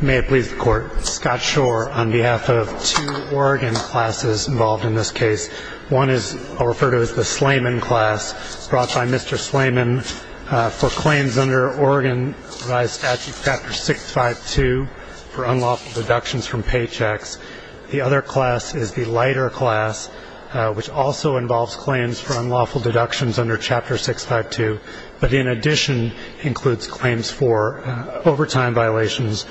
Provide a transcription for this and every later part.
May it please the Court, Scott Shore on behalf of two Oregon classes involved in this case. One is referred to as the Slayman class, brought by Mr. Slayman for claims under Oregon revised statute Chapter 652 for unlawful deductions from paychecks. The other class is the Leiter class, which also involves claims for unlawful deductions under Chapter 652, but in addition includes claims for overtime violations,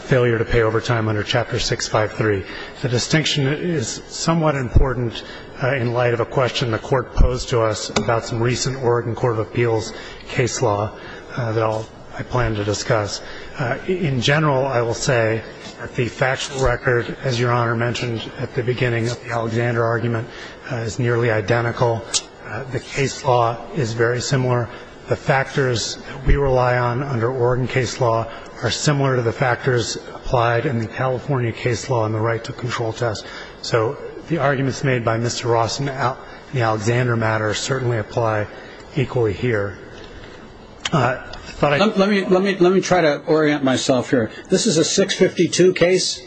failure to pay overtime under Chapter 653. The distinction is somewhat important in light of a question the Court posed to us about some recent Oregon Court of Appeals case law that I plan to discuss. In general, I will say that the factual record, as Your Honor mentioned at the beginning of the Alexander argument, is nearly identical. The case law is very similar. The factors we rely on under Oregon case law are similar to the factors applied in the California case law in the right-to-control test. So the arguments made by Mr. Ross in the Alexander matter certainly apply equally here. Let me try to orient myself here. This is a 652 case?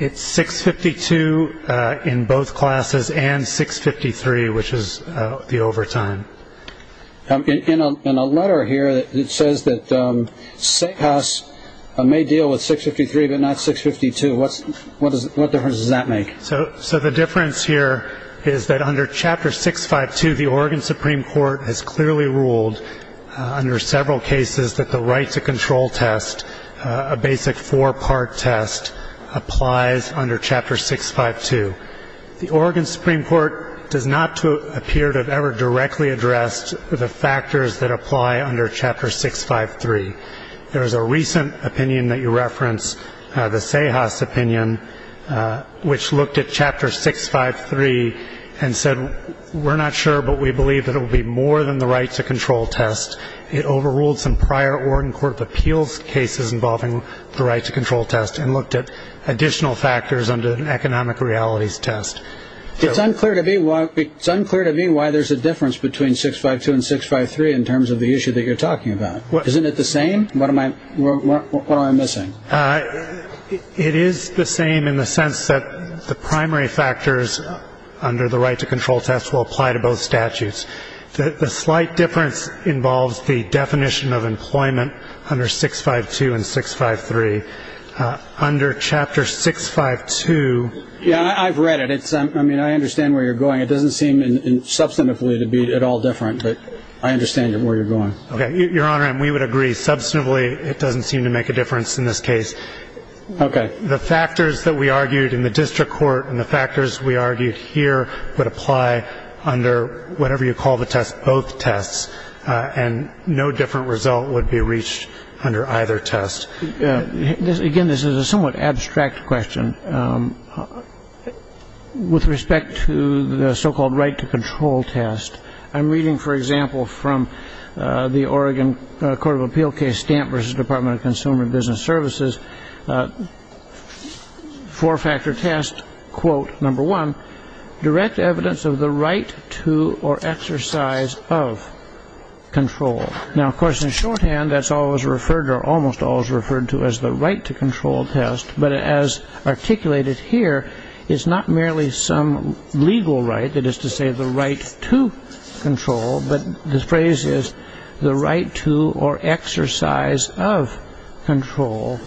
It's 652 in both classes and 653, which is the overtime. In a letter here, it says that State House may deal with 653 but not 652. What difference does that make? So the difference here is that under Chapter 652, the Oregon Supreme Court has clearly ruled under several cases that the right-to-control test, a basic four-part test, applies under Chapter 652. The Oregon Supreme Court does not appear to have ever directly addressed the factors that apply under Chapter 653. There is a recent opinion that you referenced, the Sejas opinion, which looked at Chapter 653 and said, we're not sure, but we believe that it will be more than the right-to-control test. It overruled some prior Oregon Court of Appeals cases involving the right-to-control test and looked at additional factors under an economic realities test. It's unclear to me why there's a difference between 652 and 653 in terms of the issue that you're talking about. Isn't it the same? What am I missing? It is the same in the sense that the primary factors under the right-to-control test will apply to both statutes. The slight difference involves the definition of employment under 652 and 653. Under Chapter 652 ‑‑ Yeah, I've read it. I mean, I understand where you're going. It doesn't seem substantively to be at all different, but I understand where you're going. Okay. Your Honor, we would agree substantively it doesn't seem to make a difference in this case. Okay. The factors that we argued in the district court and the factors we argued here would apply under whatever you call the test, both tests, and no different result would be reached under either test. Again, this is a somewhat abstract question. With respect to the so-called right-to-control test, I'm reading, for example, from the Oregon Court of Appeal case, Stamp v. Department of Consumer and Business Services, four-factor test, quote, number one, direct evidence of the right to or exercise of control. Now, of course, in shorthand, that's always referred to or almost always referred to as the right-to-control test, but as articulated here, it's not merely some legal right. That is to say, the right to control, but the phrase is the right to or exercise of control.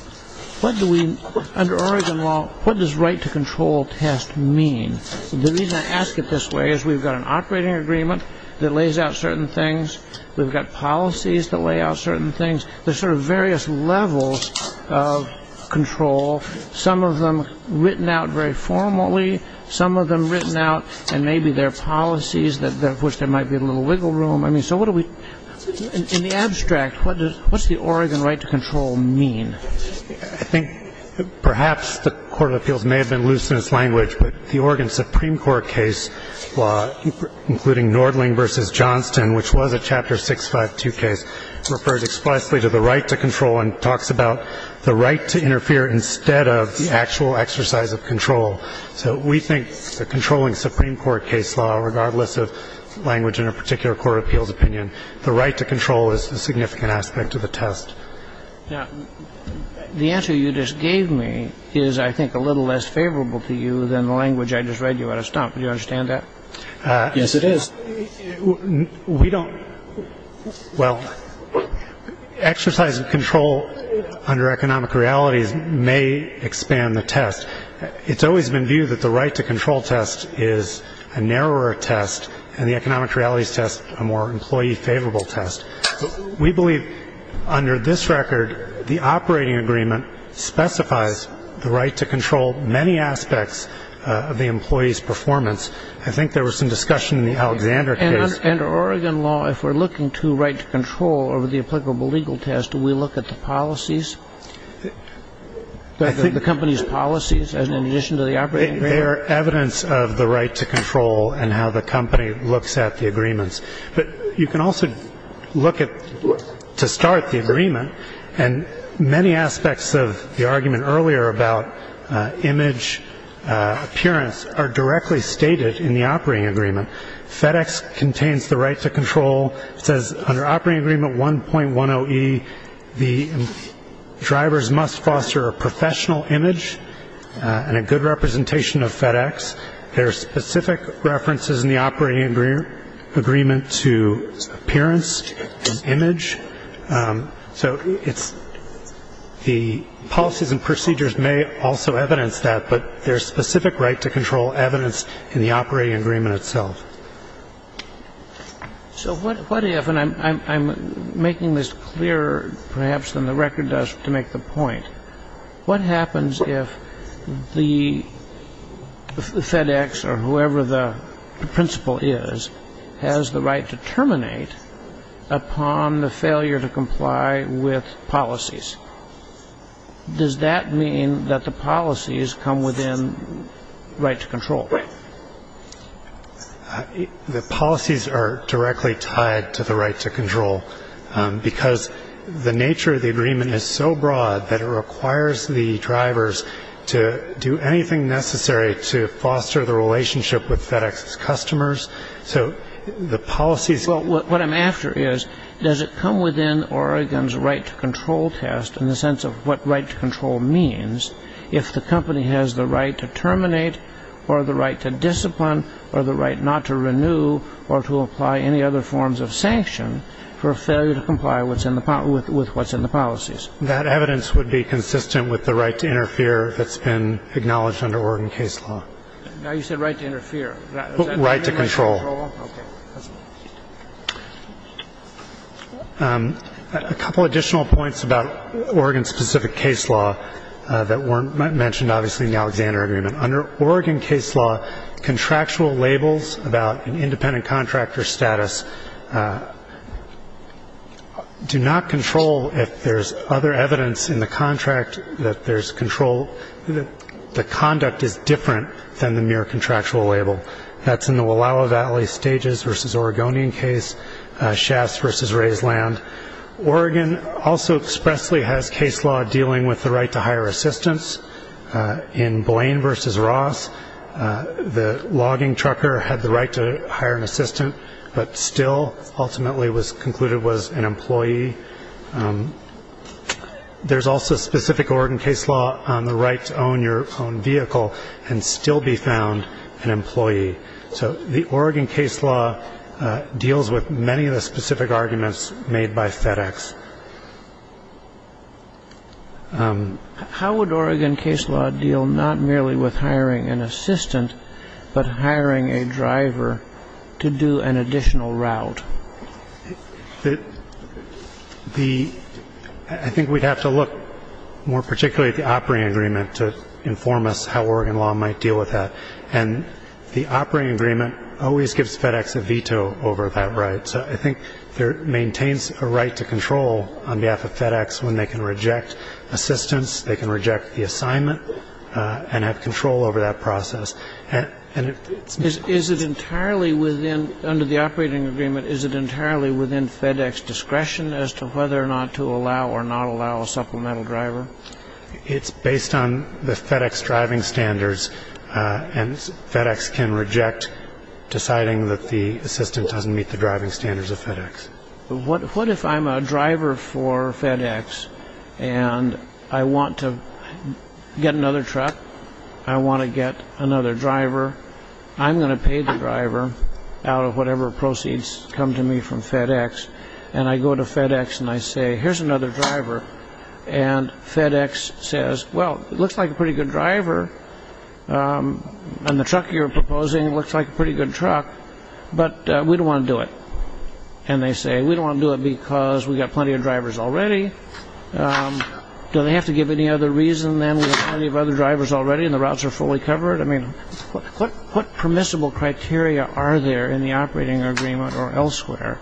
Under Oregon law, what does right-to-control test mean? The reason I ask it this way is we've got an operating agreement that lays out certain things. We've got policies that lay out certain things. There's sort of various levels of control, some of them written out very formally, some of them written out and maybe there are policies of which there might be a little wiggle room. So what do we do? In the abstract, what does the Oregon right to control mean? I think perhaps the Court of Appeals may have been loose in its language, but the Oregon Supreme Court case law, including Nordling v. Johnston, which was a Chapter 652 case, refers explicitly to the right to control and talks about the right to interfere instead of the actual exercise of control. So we think the controlling Supreme Court case law, regardless of language in a particular Court of Appeals opinion, the right to control is a significant aspect of the test. Now, the answer you just gave me is, I think, a little less favorable to you than the language I just read you at a stump. Do you understand that? Yes, it is. We don't. Well, exercise of control under economic realities may expand the test. It's always been viewed that the right to control test is a narrower test and the economic realities test a more employee-favorable test. We believe, under this record, the operating agreement specifies the right to control many aspects of the employee's performance. I think there was some discussion in the Alexander case. And under Oregon law, if we're looking to right to control over the applicable legal test, do we look at the policies, the company's policies in addition to the operating agreement? They are evidence of the right to control and how the company looks at the agreements. But you can also look at, to start the agreement, and many aspects of the argument earlier about image appearance are directly stated in the operating agreement. FedEx contains the right to control. It says under operating agreement 1.10E, the drivers must foster a professional image and a good representation of FedEx. There are specific references in the operating agreement to appearance and image. So it's the policies and procedures may also evidence that, but there's specific right to control evidence in the operating agreement itself. So what if, and I'm making this clearer perhaps than the record does to make the point, what happens if the FedEx or whoever the principal is has the right to terminate upon the failure to comply with policies? Does that mean that the policies come within right to control? The policies are directly tied to the right to control because the nature of the agreement is so broad that it requires the drivers to do anything necessary to foster the relationship with FedEx's customers. So the policies... What I'm after is, does it come within Oregon's right to control test in the sense of what right to control means if the company has the right to terminate or the right to discipline or the right not to renew or to apply any other forms of sanction for a failure to comply with what's in the policies? That evidence would be consistent with the right to interfere that's been acknowledged under Oregon case law. Now you said right to interfere. Right to control. Okay. A couple additional points about Oregon-specific case law that weren't mentioned, obviously, in the Alexander agreement. Under Oregon case law, contractual labels about an independent contractor's status do not control if there's other evidence in the contract that there's control. The conduct is different than the mere contractual label. That's in the Wallowa Valley Stages v. Oregonian case, Shafts v. Rae's Land. Oregon also expressly has case law dealing with the right to hire assistants. In Blaine v. Ross, the logging trucker had the right to hire an assistant but still ultimately was concluded was an employee. There's also specific Oregon case law on the right to own your own vehicle and still be found an employee. So the Oregon case law deals with many of the specific arguments made by FedEx. How would Oregon case law deal not merely with hiring an assistant but hiring a driver to do an additional route? I think we'd have to look more particularly at the operating agreement to inform us how Oregon law might deal with that. And the operating agreement always gives FedEx a veto over that right. So I think there maintains a right to control on behalf of FedEx when they can reject assistance, they can reject the assignment, and have control over that process. Is it entirely within, under the operating agreement, is it entirely within FedEx discretion as to whether or not to allow or not allow a supplemental driver? It's based on the FedEx driving standards. And FedEx can reject deciding that the assistant doesn't meet the driving standards of FedEx. What if I'm a driver for FedEx and I want to get another truck? I want to get another driver. I'm going to pay the driver out of whatever proceeds come to me from FedEx. And I go to FedEx and I say, here's another driver. And FedEx says, well, it looks like a pretty good driver. And the truck you're proposing looks like a pretty good truck, but we don't want to do it. And they say, we don't want to do it because we've got plenty of drivers already. Do they have to give any other reason than we have plenty of other drivers already and the routes are fully covered? I mean, what permissible criteria are there in the operating agreement or elsewhere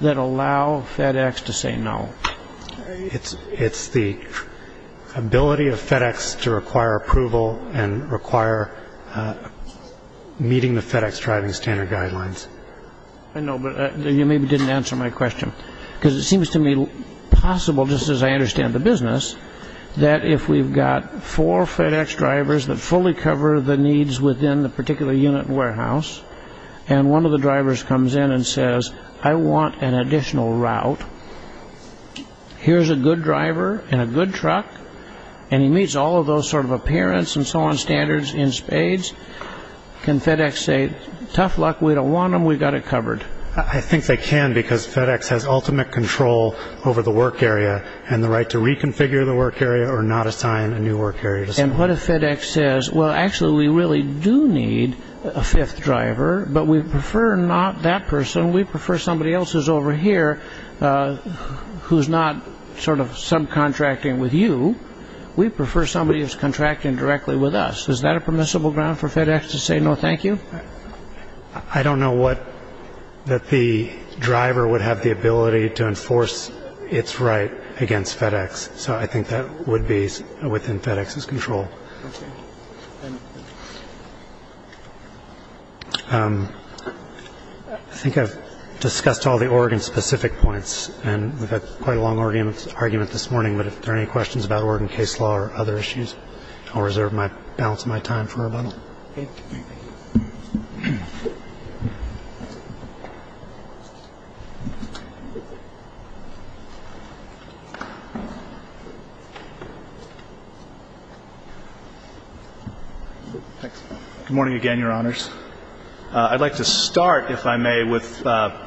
that allow FedEx to say no? It's the ability of FedEx to require approval and require meeting the FedEx driving standard guidelines. I know, but you maybe didn't answer my question. Because it seems to me possible, just as I understand the business, that if we've got four FedEx drivers that fully cover the needs within the particular unit and warehouse, and one of the drivers comes in and says, I want an additional route, here's a good driver and a good truck, and he meets all of those sort of appearance and so on standards in spades, can FedEx say, tough luck, we don't want them, we've got it covered? I think they can because FedEx has ultimate control over the work area and the right to reconfigure the work area or not assign a new work area to someone. And what if FedEx says, well, actually, we really do need a fifth driver, but we prefer not that person, we prefer somebody else who's over here who's not sort of subcontracting with you, we prefer somebody who's contracting directly with us. Is that a permissible ground for FedEx to say no thank you? I don't know that the driver would have the ability to enforce its right against FedEx, so I think that would be within FedEx's control. I think I've discussed all the Oregon-specific points, and we've had quite a long argument this morning, but if there are any questions about Oregon case law or other issues, I'll reserve my balance of my time for rebuttal. Good morning again, Your Honors. I'd like to start, if I may, with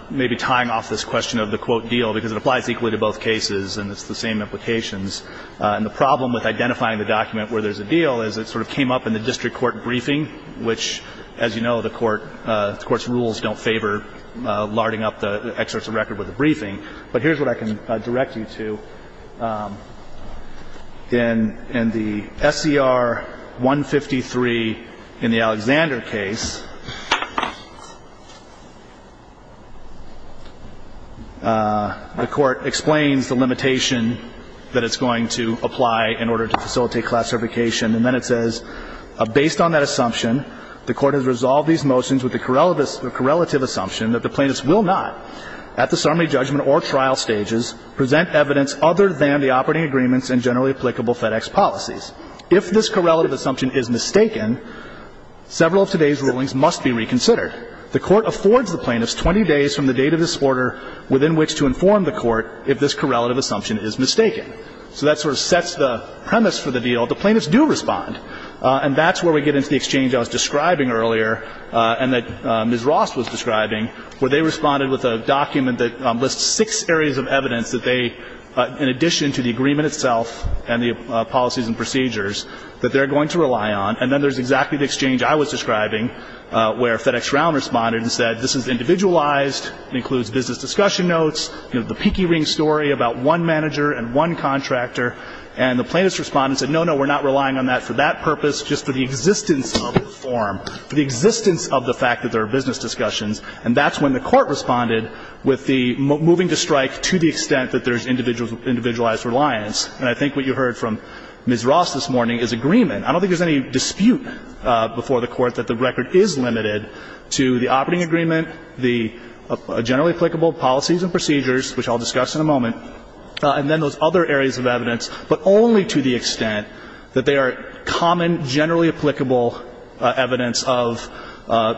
maybe tying off this question of the quote deal because it applies equally to both cases and it's the same implications. And the problem with identifying the document where there's a deal is it sort of came up in the district court briefing, which, as you know, the court's rules don't favor larding up the excerpts of record with a briefing. But here's what I can direct you to. In the SCR 153 in the Alexander case, the court explains the limitation that it's going to apply in order to facilitate classification. And then it says, If this correlative assumption is mistaken, several of today's rulings must be reconsidered. The court affords the plaintiffs 20 days from the date of this order within which to inform the court if this correlative assumption is mistaken. So that sort of sets the premise for the deal. The plaintiffs do respond. And that's where we get into the exchange I was describing earlier and that Ms. Ross was describing, where they responded with a document that lists six areas of evidence that they, in addition to the agreement itself and the policies and procedures, that they're going to rely on. And then there's exactly the exchange I was describing where FedEx Round responded and said, This is individualized. It includes business discussion notes. You know, the peaky ring story about one manager and one contractor. And the plaintiffs respond and said, No, no, we're not relying on that for that purpose, just for the existence of the form, for the existence of the fact that there are business discussions. And that's when the court responded with the moving to strike to the extent that there's individualized reliance. And I think what you heard from Ms. Ross this morning is agreement. I don't think there's any dispute before the court that the record is limited to the operating agreement, the generally applicable policies and procedures, which I'll discuss in a moment, and then those other areas of evidence, but only to the extent that they are common, generally applicable evidence of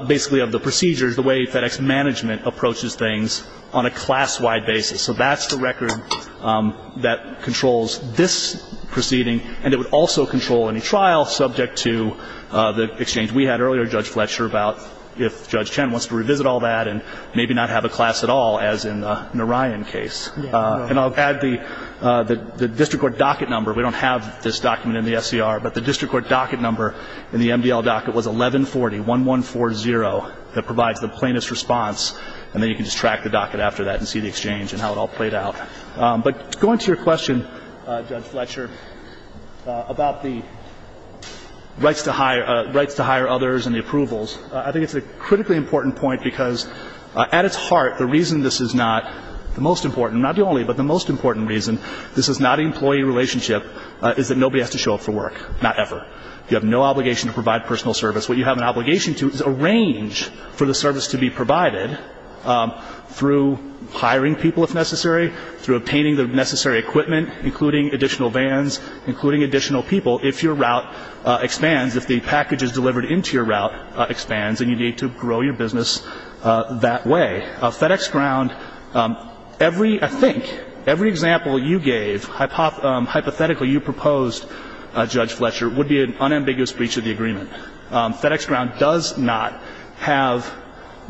basically of the procedures, the way FedEx management approaches things on a class-wide basis. So that's the record that controls this proceeding, and it would also control any trial subject to the exchange we had earlier, Judge Fletcher, about if Judge Chen wants to revisit all that and maybe not have a class at all, as in the Narayan case. And I'll add the district court docket number. We don't have this document in the SCR, but the district court docket number in the MDL docket was 1140, 1140, that provides the plaintiff's response. And then you can just track the docket after that and see the exchange and how it all played out. But going to your question, Judge Fletcher, about the rights to hire others and the approvals, I think it's a critically important point because at its heart, the reason this is not the most important, not the only, but the most important reason this is not an employee relationship is that nobody has to show up for work, not ever. You have no obligation to provide personal service. What you have an obligation to is arrange for the service to be provided through hiring people if necessary, through obtaining the necessary equipment, including additional vans, including additional people, if your route expands, if the package is delivered into your route expands and you need to grow your business that way. FedEx Ground, every, I think, every example you gave hypothetically you proposed, Judge Fletcher, would be an unambiguous breach of the agreement. FedEx Ground does not have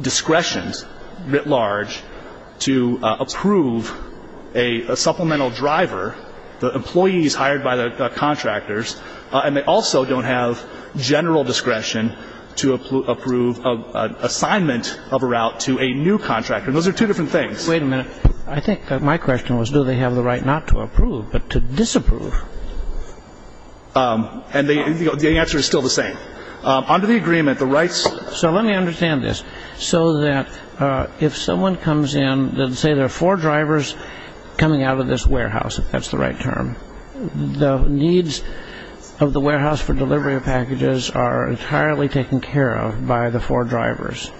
discretions writ large to approve a supplemental driver, the employees hired by the contractors, and they also don't have general discretion to approve an assignment of a route to a new contractor. Those are two different things. Wait a minute. I think my question was, do they have the right not to approve but to disapprove? And the answer is still the same. Under the agreement, the rights — So let me understand this. So that if someone comes in, let's say there are four drivers coming out of this warehouse, if that's the right term, the needs of the warehouse for delivery of packages are entirely taken care of by the four drivers.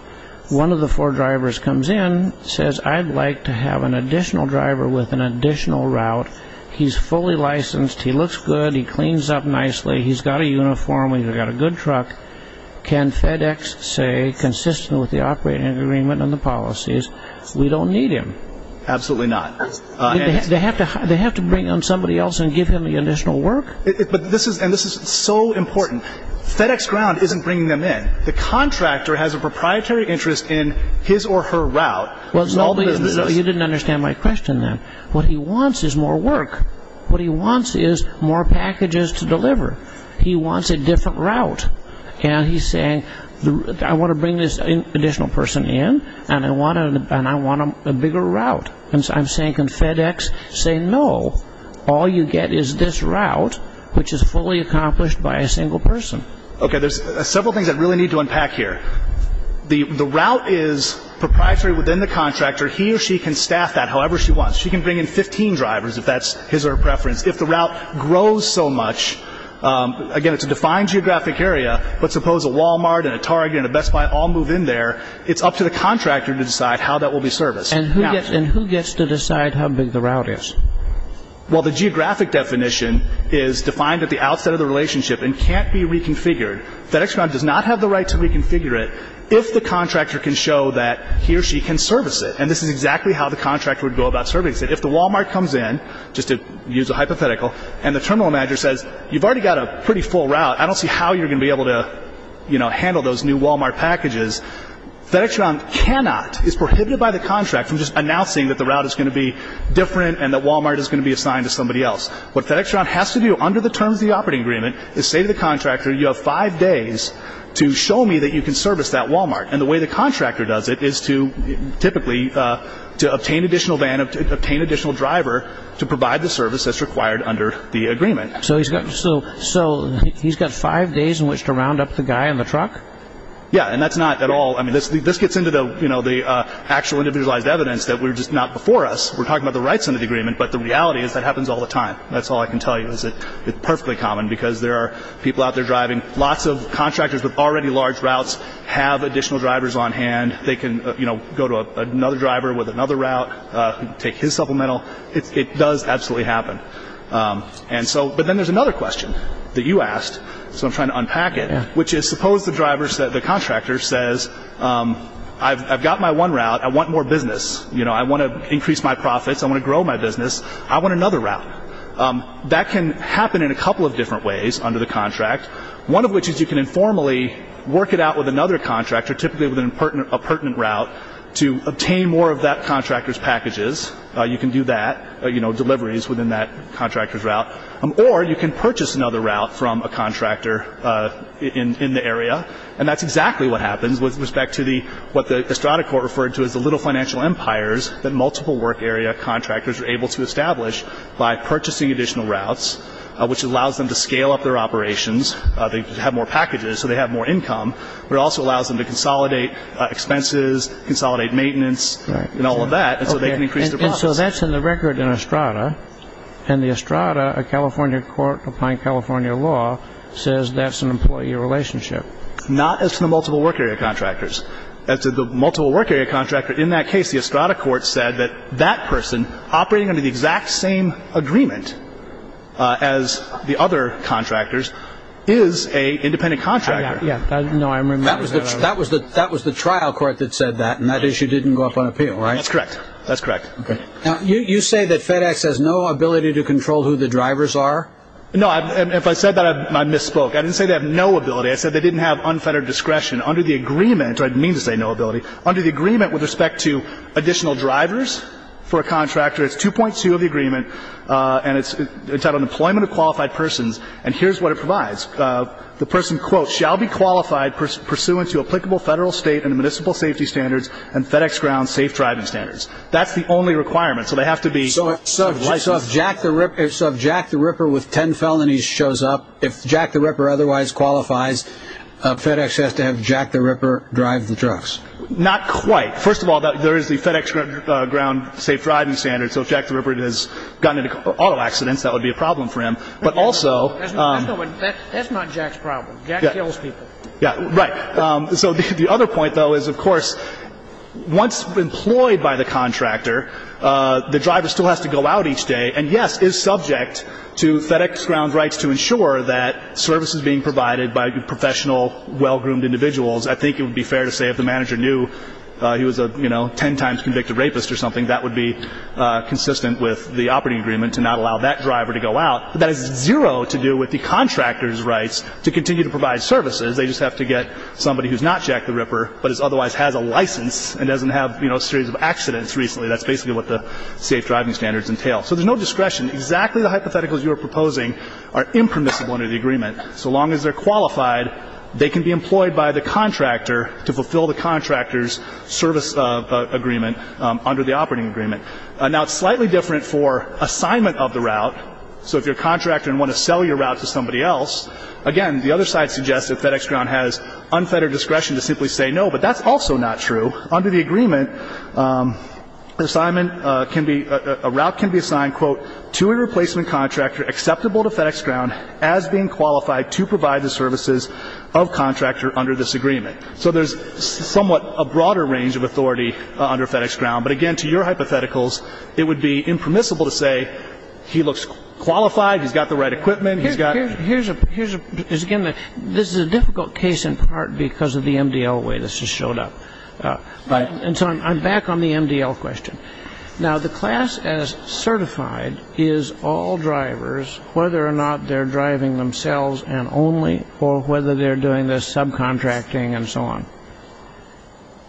One of the four drivers comes in, says, I'd like to have an additional driver with an additional route. He's fully licensed. He looks good. He cleans up nicely. He's got a uniform. He's got a good truck. Can FedEx say, consistent with the operating agreement and the policies, we don't need him? Absolutely not. They have to bring in somebody else and give him the additional work? And this is so important. FedEx Ground isn't bringing them in. The contractor has a proprietary interest in his or her route. Well, you didn't understand my question then. What he wants is more work. What he wants is more packages to deliver. He wants a different route. And he's saying, I want to bring this additional person in, and I want a bigger route. I'm saying, can FedEx say no? All you get is this route, which is fully accomplished by a single person. Okay, there's several things I really need to unpack here. The route is proprietary within the contractor. He or she can staff that however she wants. Because if the route grows so much, again, it's a defined geographic area, but suppose a Walmart and a Target and a Best Buy all move in there, it's up to the contractor to decide how that will be serviced. And who gets to decide how big the route is? Well, the geographic definition is defined at the outset of the relationship and can't be reconfigured. FedEx Ground does not have the right to reconfigure it if the contractor can show that he or she can service it. And this is exactly how the contractor would go about servicing it. If the Walmart comes in, just to use a hypothetical, and the terminal manager says, you've already got a pretty full route, I don't see how you're going to be able to handle those new Walmart packages, FedEx Ground cannot, is prohibited by the contract from just announcing that the route is going to be different and that Walmart is going to be assigned to somebody else. What FedEx Ground has to do under the terms of the operating agreement is say to the contractor, And the way the contractor does it is to, typically, to obtain additional van, obtain additional driver to provide the service that's required under the agreement. So he's got five days in which to round up the guy in the truck? Yeah, and that's not at all, I mean, this gets into the actual individualized evidence that we're just not before us. We're talking about the rights under the agreement, but the reality is that happens all the time. That's all I can tell you is that it's perfectly common because there are people out there driving, lots of contractors with already large routes have additional drivers on hand. They can go to another driver with another route, take his supplemental. It does absolutely happen. But then there's another question that you asked, so I'm trying to unpack it, which is suppose the driver, the contractor says, I've got my one route, I want more business. I want to increase my profits, I want to grow my business, I want another route. That can happen in a couple of different ways under the contract, one of which is you can informally work it out with another contractor, typically with a pertinent route to obtain more of that contractor's packages. You can do that, you know, deliveries within that contractor's route. Or you can purchase another route from a contractor in the area. And that's exactly what happens with respect to what the Estrada Court referred to as the little financial empires that multiple work area contractors are able to establish by purchasing additional routes, which allows them to scale up their operations. They have more packages, so they have more income, but it also allows them to consolidate expenses, consolidate maintenance, and all of that, and so they can increase their profits. And so that's in the record in Estrada, and the Estrada, a California court applying California law, says that's an employee relationship. Not as to the multiple work area contractors. As to the multiple work area contractor. In that case, the Estrada Court said that that person operating under the exact same agreement as the other contractors is a independent contractor. Yeah. No, I remember that. That was the trial court that said that, and that issue didn't go up on appeal, right? That's correct. That's correct. Okay. Now, you say that FedEx has no ability to control who the drivers are? No. If I said that, I misspoke. I didn't say they have no ability. I said they didn't have unfettered discretion under the agreement, or I didn't mean to say no ability, under the agreement with respect to additional drivers for a contractor. It's 2.2 of the agreement, and it's entitled Employment of Qualified Persons, and here's what it provides. The person, quote, shall be qualified pursuant to applicable federal, state, and municipal safety standards and FedEx ground safe driving standards. That's the only requirement, so they have to be licensed. So if Jack the Ripper with ten felonies shows up, if Jack the Ripper otherwise qualifies, FedEx has to have Jack the Ripper drive the trucks? Not quite. First of all, there is the FedEx ground safe driving standards, so if Jack the Ripper has gotten into auto accidents, that would be a problem for him. But also – That's not Jack's problem. Jack kills people. Yeah, right. So the other point, though, is, of course, once employed by the contractor, the driver still has to go out each day and, yes, is subject to FedEx ground rights to ensure that services being provided by professional, well-groomed individuals. I think it would be fair to say if the manager knew he was a ten times convicted rapist or something, that would be consistent with the operating agreement to not allow that driver to go out. But that has zero to do with the contractor's rights to continue to provide services. They just have to get somebody who's not Jack the Ripper but otherwise has a license and doesn't have a series of accidents recently. That's basically what the safe driving standards entail. So there's no discretion. Exactly the hypotheticals you were proposing are impermissible under the agreement. So long as they're qualified, they can be employed by the contractor to fulfill the contractor's service agreement under the operating agreement. Now, it's slightly different for assignment of the route. So if you're a contractor and want to sell your route to somebody else, again, the other side suggests that FedEx ground has unfettered discretion to simply say no, but that's also not true. So under the agreement, assignment can be, a route can be assigned, quote, to a replacement contractor acceptable to FedEx ground as being qualified to provide the services of contractor under this agreement. So there's somewhat a broader range of authority under FedEx ground. But, again, to your hypotheticals, it would be impermissible to say he looks qualified, he's got the right equipment, he's got. This is a difficult case in part because of the MDL way this has showed up. And so I'm back on the MDL question. Now, the class as certified is all drivers, whether or not they're driving themselves and only, or whether they're doing the subcontracting and so on.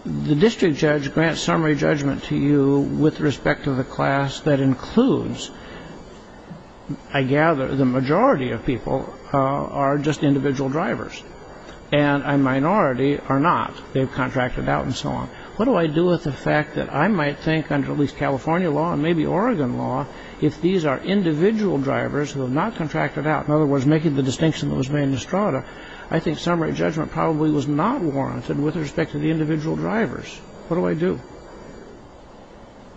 The district judge grants summary judgment to you with respect to the class that includes, I gather the majority of people are just individual drivers. And a minority are not. They've contracted out and so on. What do I do with the fact that I might think under at least California law and maybe Oregon law, if these are individual drivers who have not contracted out, in other words, making the distinction that was made in Estrada, I think summary judgment probably was not warranted with respect to the individual drivers. What do I do?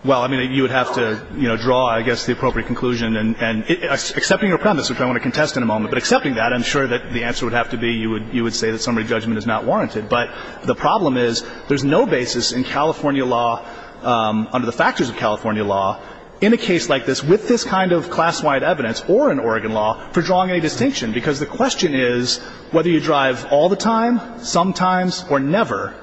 Well, I mean, you would have to draw, I guess, the appropriate conclusion. And accepting your premise, which I want to contest in a moment, but accepting that, I'm sure that the answer would have to be you would say that summary judgment is not warranted. But the problem is there's no basis in California law under the factors of California law in a case like this with this kind of class-wide evidence or in Oregon law for drawing a distinction because the question is whether you drive all the time, sometimes, or never,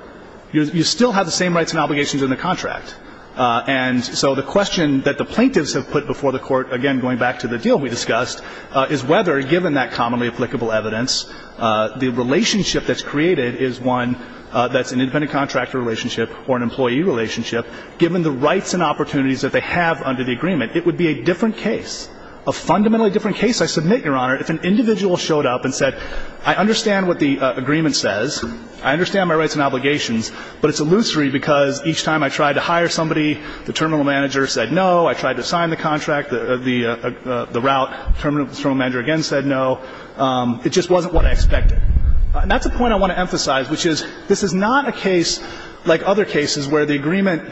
you still have the same rights and obligations in the contract. And so the question that the plaintiffs have put before the Court, again, going back to the deal we discussed, is whether, given that commonly applicable evidence, the relationship that's created is one that's an independent contractor relationship or an employee relationship. Given the rights and opportunities that they have under the agreement, it would be a different case, a fundamentally different case, I submit, Your Honor, if an individual showed up and said, I understand what the agreement says. I understand my rights and obligations. But it's illusory because each time I tried to hire somebody, the terminal manager said no. I tried to sign the contract. The route terminal manager again said no. It just wasn't what I expected. And that's a point I want to emphasize, which is this is not a case like other cases where the agreement,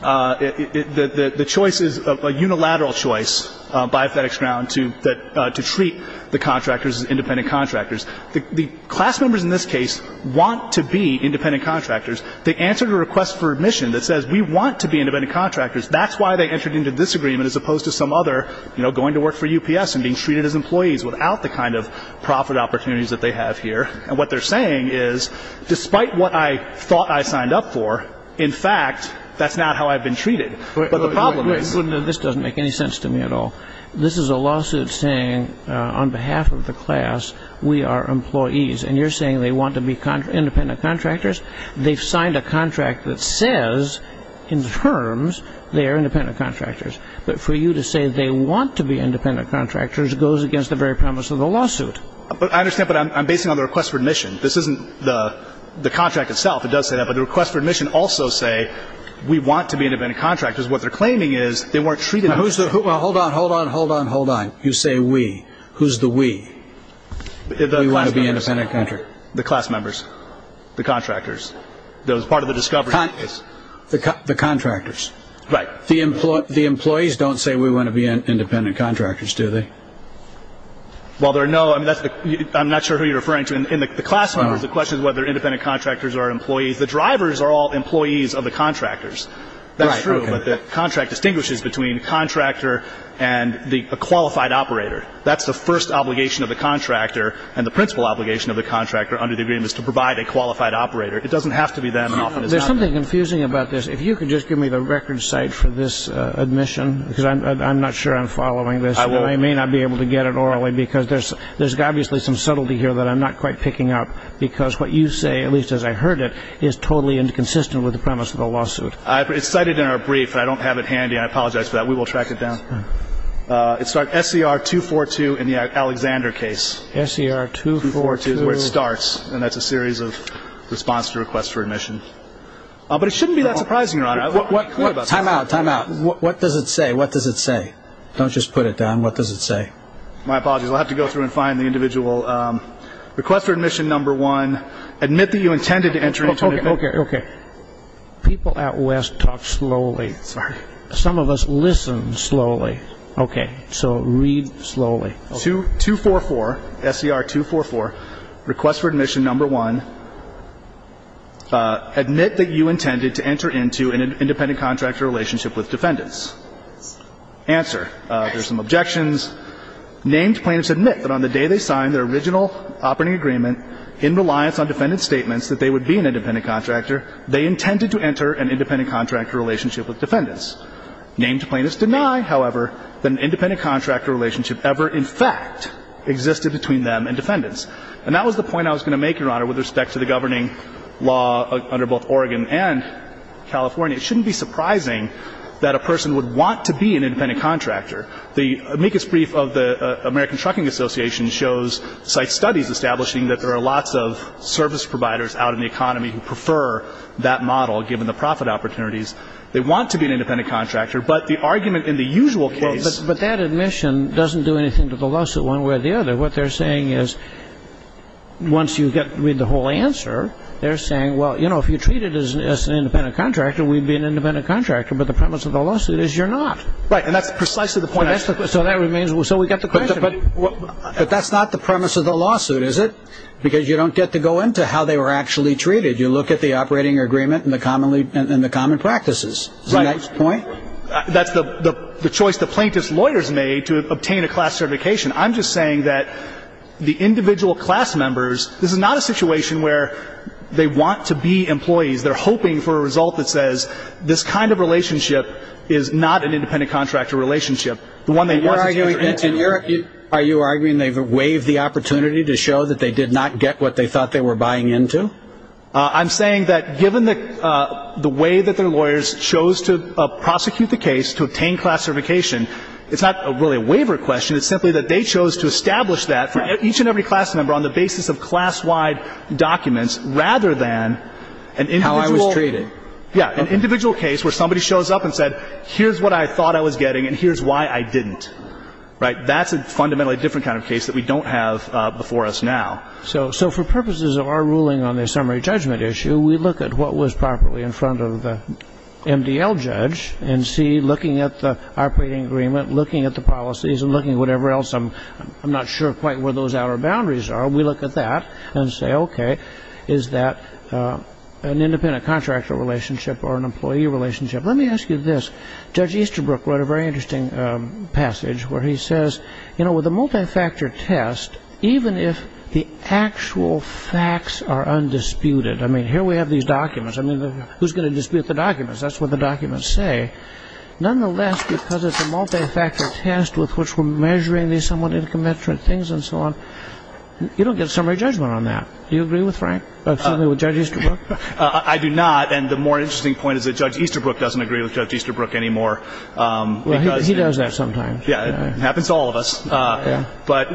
the choice is a unilateral choice by FedEx Ground to treat the contractors as independent contractors. The class members in this case want to be independent contractors. They answered a request for admission that says we want to be independent contractors. That's why they entered into this agreement as opposed to some other, you know, going to work for UPS and being treated as employees without the kind of profit opportunities that they have here. And what they're saying is despite what I thought I signed up for, in fact, that's not how I've been treated. But the problem is this doesn't make any sense to me at all. This is a lawsuit saying on behalf of the class we are employees. And you're saying they want to be independent contractors. They've signed a contract that says in terms they are independent contractors. But for you to say they want to be independent contractors goes against the very premise of the lawsuit. But I understand, but I'm basing it on the request for admission. This isn't the contract itself. It does say that, but the request for admission also say we want to be independent contractors. What they're claiming is they weren't treated as. Hold on, hold on, hold on, hold on. You say we. Who's the we? We want to be independent contractors. The class members. The contractors. That was part of the discovery. The contractors. Right. The employees don't say we want to be independent contractors, do they? Well, there are no. I'm not sure who you're referring to. In the class members, the question is whether independent contractors are employees. The drivers are all employees of the contractors. That's true. But the contract distinguishes between contractor and a qualified operator. That's the first obligation of the contractor. And the principal obligation of the contractor under the agreement is to provide a qualified operator. It doesn't have to be them. And often it's not them. There's something confusing about this. If you could just give me the record site for this admission, because I'm not sure I'm following this. I may not be able to get it orally, because there's obviously some subtlety here that I'm not quite picking up, because what you say, at least as I heard it, is totally inconsistent with the premise of the lawsuit. It's cited in our brief, but I don't have it handy. I apologize for that. We will track it down. It's SCR-242 in the Alexander case. SCR-242. 242 is where it starts, and that's a series of response to requests for admission. But it shouldn't be that surprising, Your Honor. Time out. Time out. What does it say? What does it say? Don't just put it down. What does it say? My apologies. I'll have to go through and find the individual. Request for admission number one, admit that you intended to enter into an independent. Okay. Okay. People at West talk slowly. Sorry. Some of us listen slowly. Okay. So read slowly. Okay. 244, SCR-244, request for admission number one, admit that you intended to enter into an independent contractor relationship with defendants. Answer. There's some objections. Named plaintiffs admit that on the day they signed their original operating agreement, in reliance on defendant's statements that they would be an independent contractor, they intended to enter an independent contractor relationship with defendants. Named plaintiffs deny, however, that an independent contractor relationship ever, in fact, existed between them and defendants. And that was the point I was going to make, Your Honor, with respect to the governing law under both Oregon and California. It shouldn't be surprising that a person would want to be an independent contractor. The amicus brief of the American Trucking Association shows site studies establishing that there are lots of service providers out in the economy who prefer that model, given the profit opportunities. They want to be an independent contractor. But the argument in the usual case But that admission doesn't do anything to the loss of one way or the other. What they're saying is, once you read the whole answer, they're saying, well, you know, if you treat it as an independent contractor, we'd be an independent contractor. But the premise of the lawsuit is you're not. Right. And that's precisely the point I was making. So that remains. So we've got the question. But that's not the premise of the lawsuit, is it? Because you don't get to go into how they were actually treated. You look at the operating agreement and the common practices. Right. Is that your point? That's the choice the plaintiff's lawyers made to obtain a class certification. I'm just saying that the individual class members, this is not a situation where they want to be employees. They're hoping for a result that says this kind of relationship is not an independent contractor relationship. And you're arguing they've waived the opportunity to show that they did not get what they thought they were buying into? I'm saying that given the way that their lawyers chose to prosecute the case to obtain class certification, it's not really a waiver question. It's simply that they chose to establish that for each and every class member on the basis of class-wide documents rather than an individual. How I was treated. Yeah. An individual case where somebody shows up and said, here's what I thought I was getting and here's why I didn't. Right. That's a fundamentally different kind of case that we don't have before us now. So for purposes of our ruling on the summary judgment issue, we look at what was properly in front of the MDL judge and see, looking at the operating agreement, looking at the policies and looking at whatever else, I'm not sure quite where those outer boundaries are. We look at that and say, okay, is that an independent contractor relationship or an employee relationship? Let me ask you this. Judge Easterbrook wrote a very interesting passage where he says, you know, with a multifactor test, even if the actual facts are undisputed, I mean, here we have these documents. I mean, who's going to dispute the documents? That's what the documents say. Nonetheless, because it's a multifactor test with which we're measuring these somewhat interconnected things and so on, you don't get a summary judgment on that. Do you agree with Frank, with Judge Easterbrook? I do not. And the more interesting point is that Judge Easterbrook doesn't agree with Judge Easterbrook anymore. Well, he does that sometimes. Yeah. It happens to all of us. But,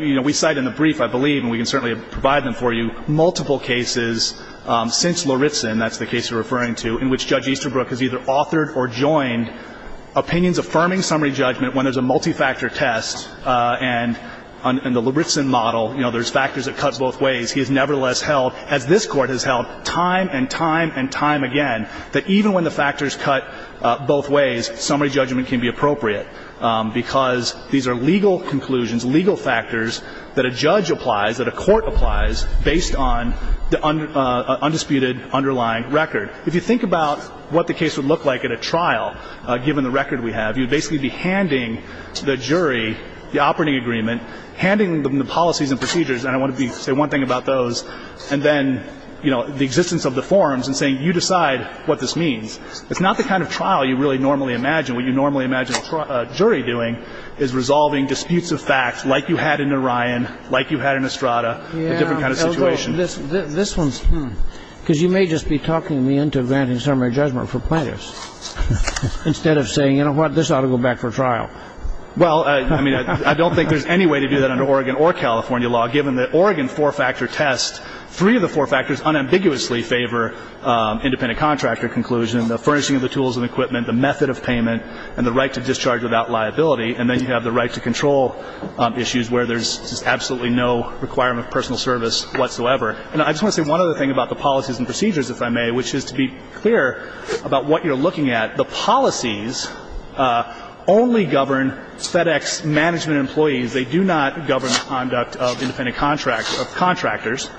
you know, we cite in the brief, I believe, and we can certainly provide them for you, multiple cases since Loritzen, that's the case you're referring to, in which Judge Easterbrook has either authored or joined opinions affirming summary judgment when there's a multifactor test. And on the Loritzen model, you know, there's factors that cuts both ways. He has nevertheless held, as this Court has held time and time and time again, that even when the factors cut both ways, summary judgment can be appropriate because these are legal conclusions, legal factors that a judge applies, that a court applies based on the undisputed underlying record. If you think about what the case would look like at a trial, given the record we have, you'd basically be handing the jury the operating agreement, handing them the policies and procedures, and I want to say one thing about those, and then, you know, the existence of the forms and saying you decide what this means. It's not the kind of trial you really normally imagine. What you normally imagine a jury doing is resolving disputes of facts like you had in Orion, like you had in Estrada, a different kind of situation. This one's, hmm. Because you may just be talking me into granting summary judgment for plaintiffs instead of saying, you know what, this ought to go back for trial. Well, I mean, I don't think there's any way to do that under Oregon or California law. Given that Oregon four-factor tests, three of the four factors unambiguously favor independent contractor conclusion, the furnishing of the tools and equipment, the method of payment, and the right to discharge without liability. And then you have the right to control issues where there's just absolutely no requirement of personal service whatsoever. And I just want to say one other thing about the policies and procedures, if I may, which is to be clear about what you're looking at. The policies only govern FedEx management employees. They do not govern conduct of independent contractors.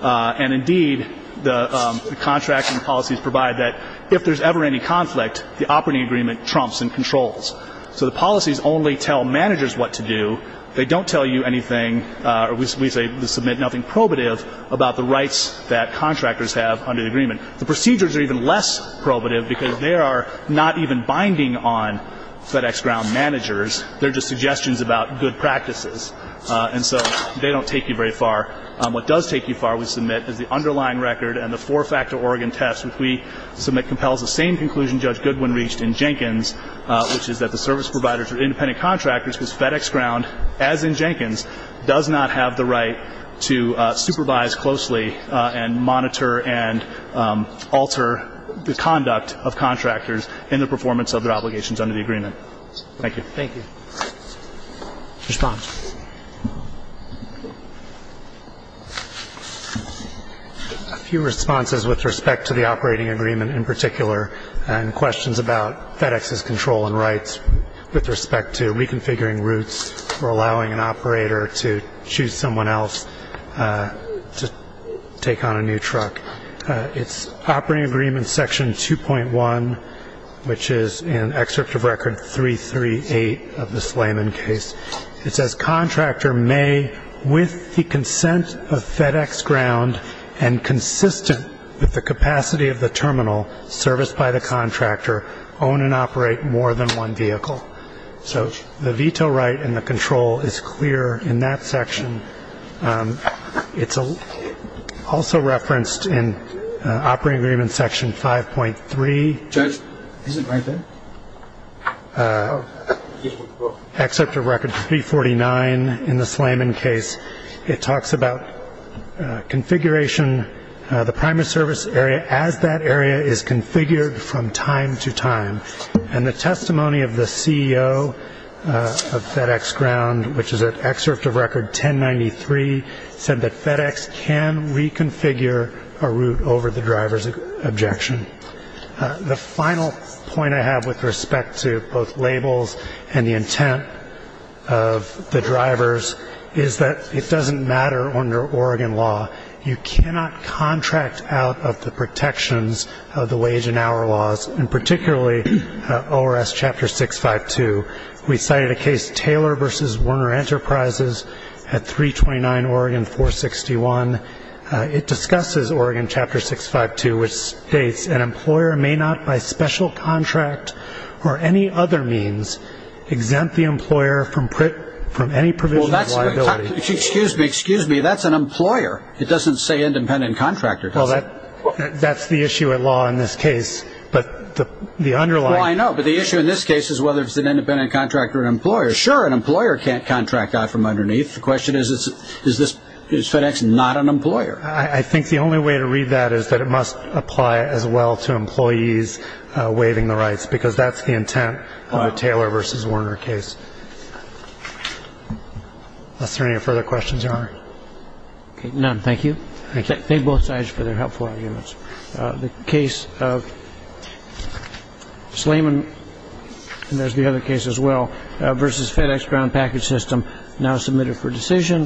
And, indeed, the contracting policies provide that if there's ever any conflict, the operating agreement trumps and controls. So the policies only tell managers what to do. They don't tell you anything, or we say to submit nothing probative, about the rights that contractors have under the agreement. The procedures are even less probative because they are not even binding on FedEx ground managers. They're just suggestions about good practices. And so they don't take you very far. What does take you far, we submit, is the underlying record and the four-factor Oregon test, which we submit compels the same conclusion Judge Goodwin reached in Jenkins, which is that the service providers are independent contractors, because FedEx ground, as in Jenkins, does not have the right to supervise closely and monitor and alter the conduct of contractors in the performance of their obligations under the agreement. Thank you. Thank you. Response. A few responses with respect to the operating agreement in particular and questions about FedEx's control and rights with respect to reconfiguring routes or allowing an operator to choose someone else to take on a new truck. It's operating agreement section 2.1, which is in excerpt of record 338 of the Slayman case. It says contractor may, with the consent of FedEx ground and consistent with the capacity of the terminal serviced by the contractor, own and operate more than one vehicle. So the veto right and the control is clear in that section. It's also referenced in operating agreement section 5.3. Judge, is it right there? Excerpt of record 349 in the Slayman case. It talks about configuration, the primary service area as that area is configured from time to time. And the testimony of the CEO of FedEx ground, which is at excerpt of record 1093, said that FedEx can reconfigure a route over the driver's objection. The final point I have with respect to both labels and the intent of the drivers is that it doesn't matter under Oregon law. You cannot contract out of the protections of the wage and hour laws, and particularly ORS Chapter 652. We cited a case, Taylor v. Werner Enterprises at 329 Oregon 461. It discusses Oregon Chapter 652, which states, an employer may not by special contract or any other means exempt the employer from any provision of liability. Excuse me, excuse me. That's an employer. It doesn't say independent contractor, does it? Well, that's the issue at law in this case. Well, I know, but the issue in this case is whether it's an independent contractor or an employer. Sure, an employer can't contract out from underneath. The question is, is FedEx not an employer? I think the only way to read that is that it must apply as well to employees waiving the rights, because that's the intent of the Taylor v. Werner case. Unless there are any further questions, Your Honor. None. Thank you. Thank both sides for their helpful arguments. The case of Slayman, and there's the other case as well, versus FedEx ground package system now submitted for decision.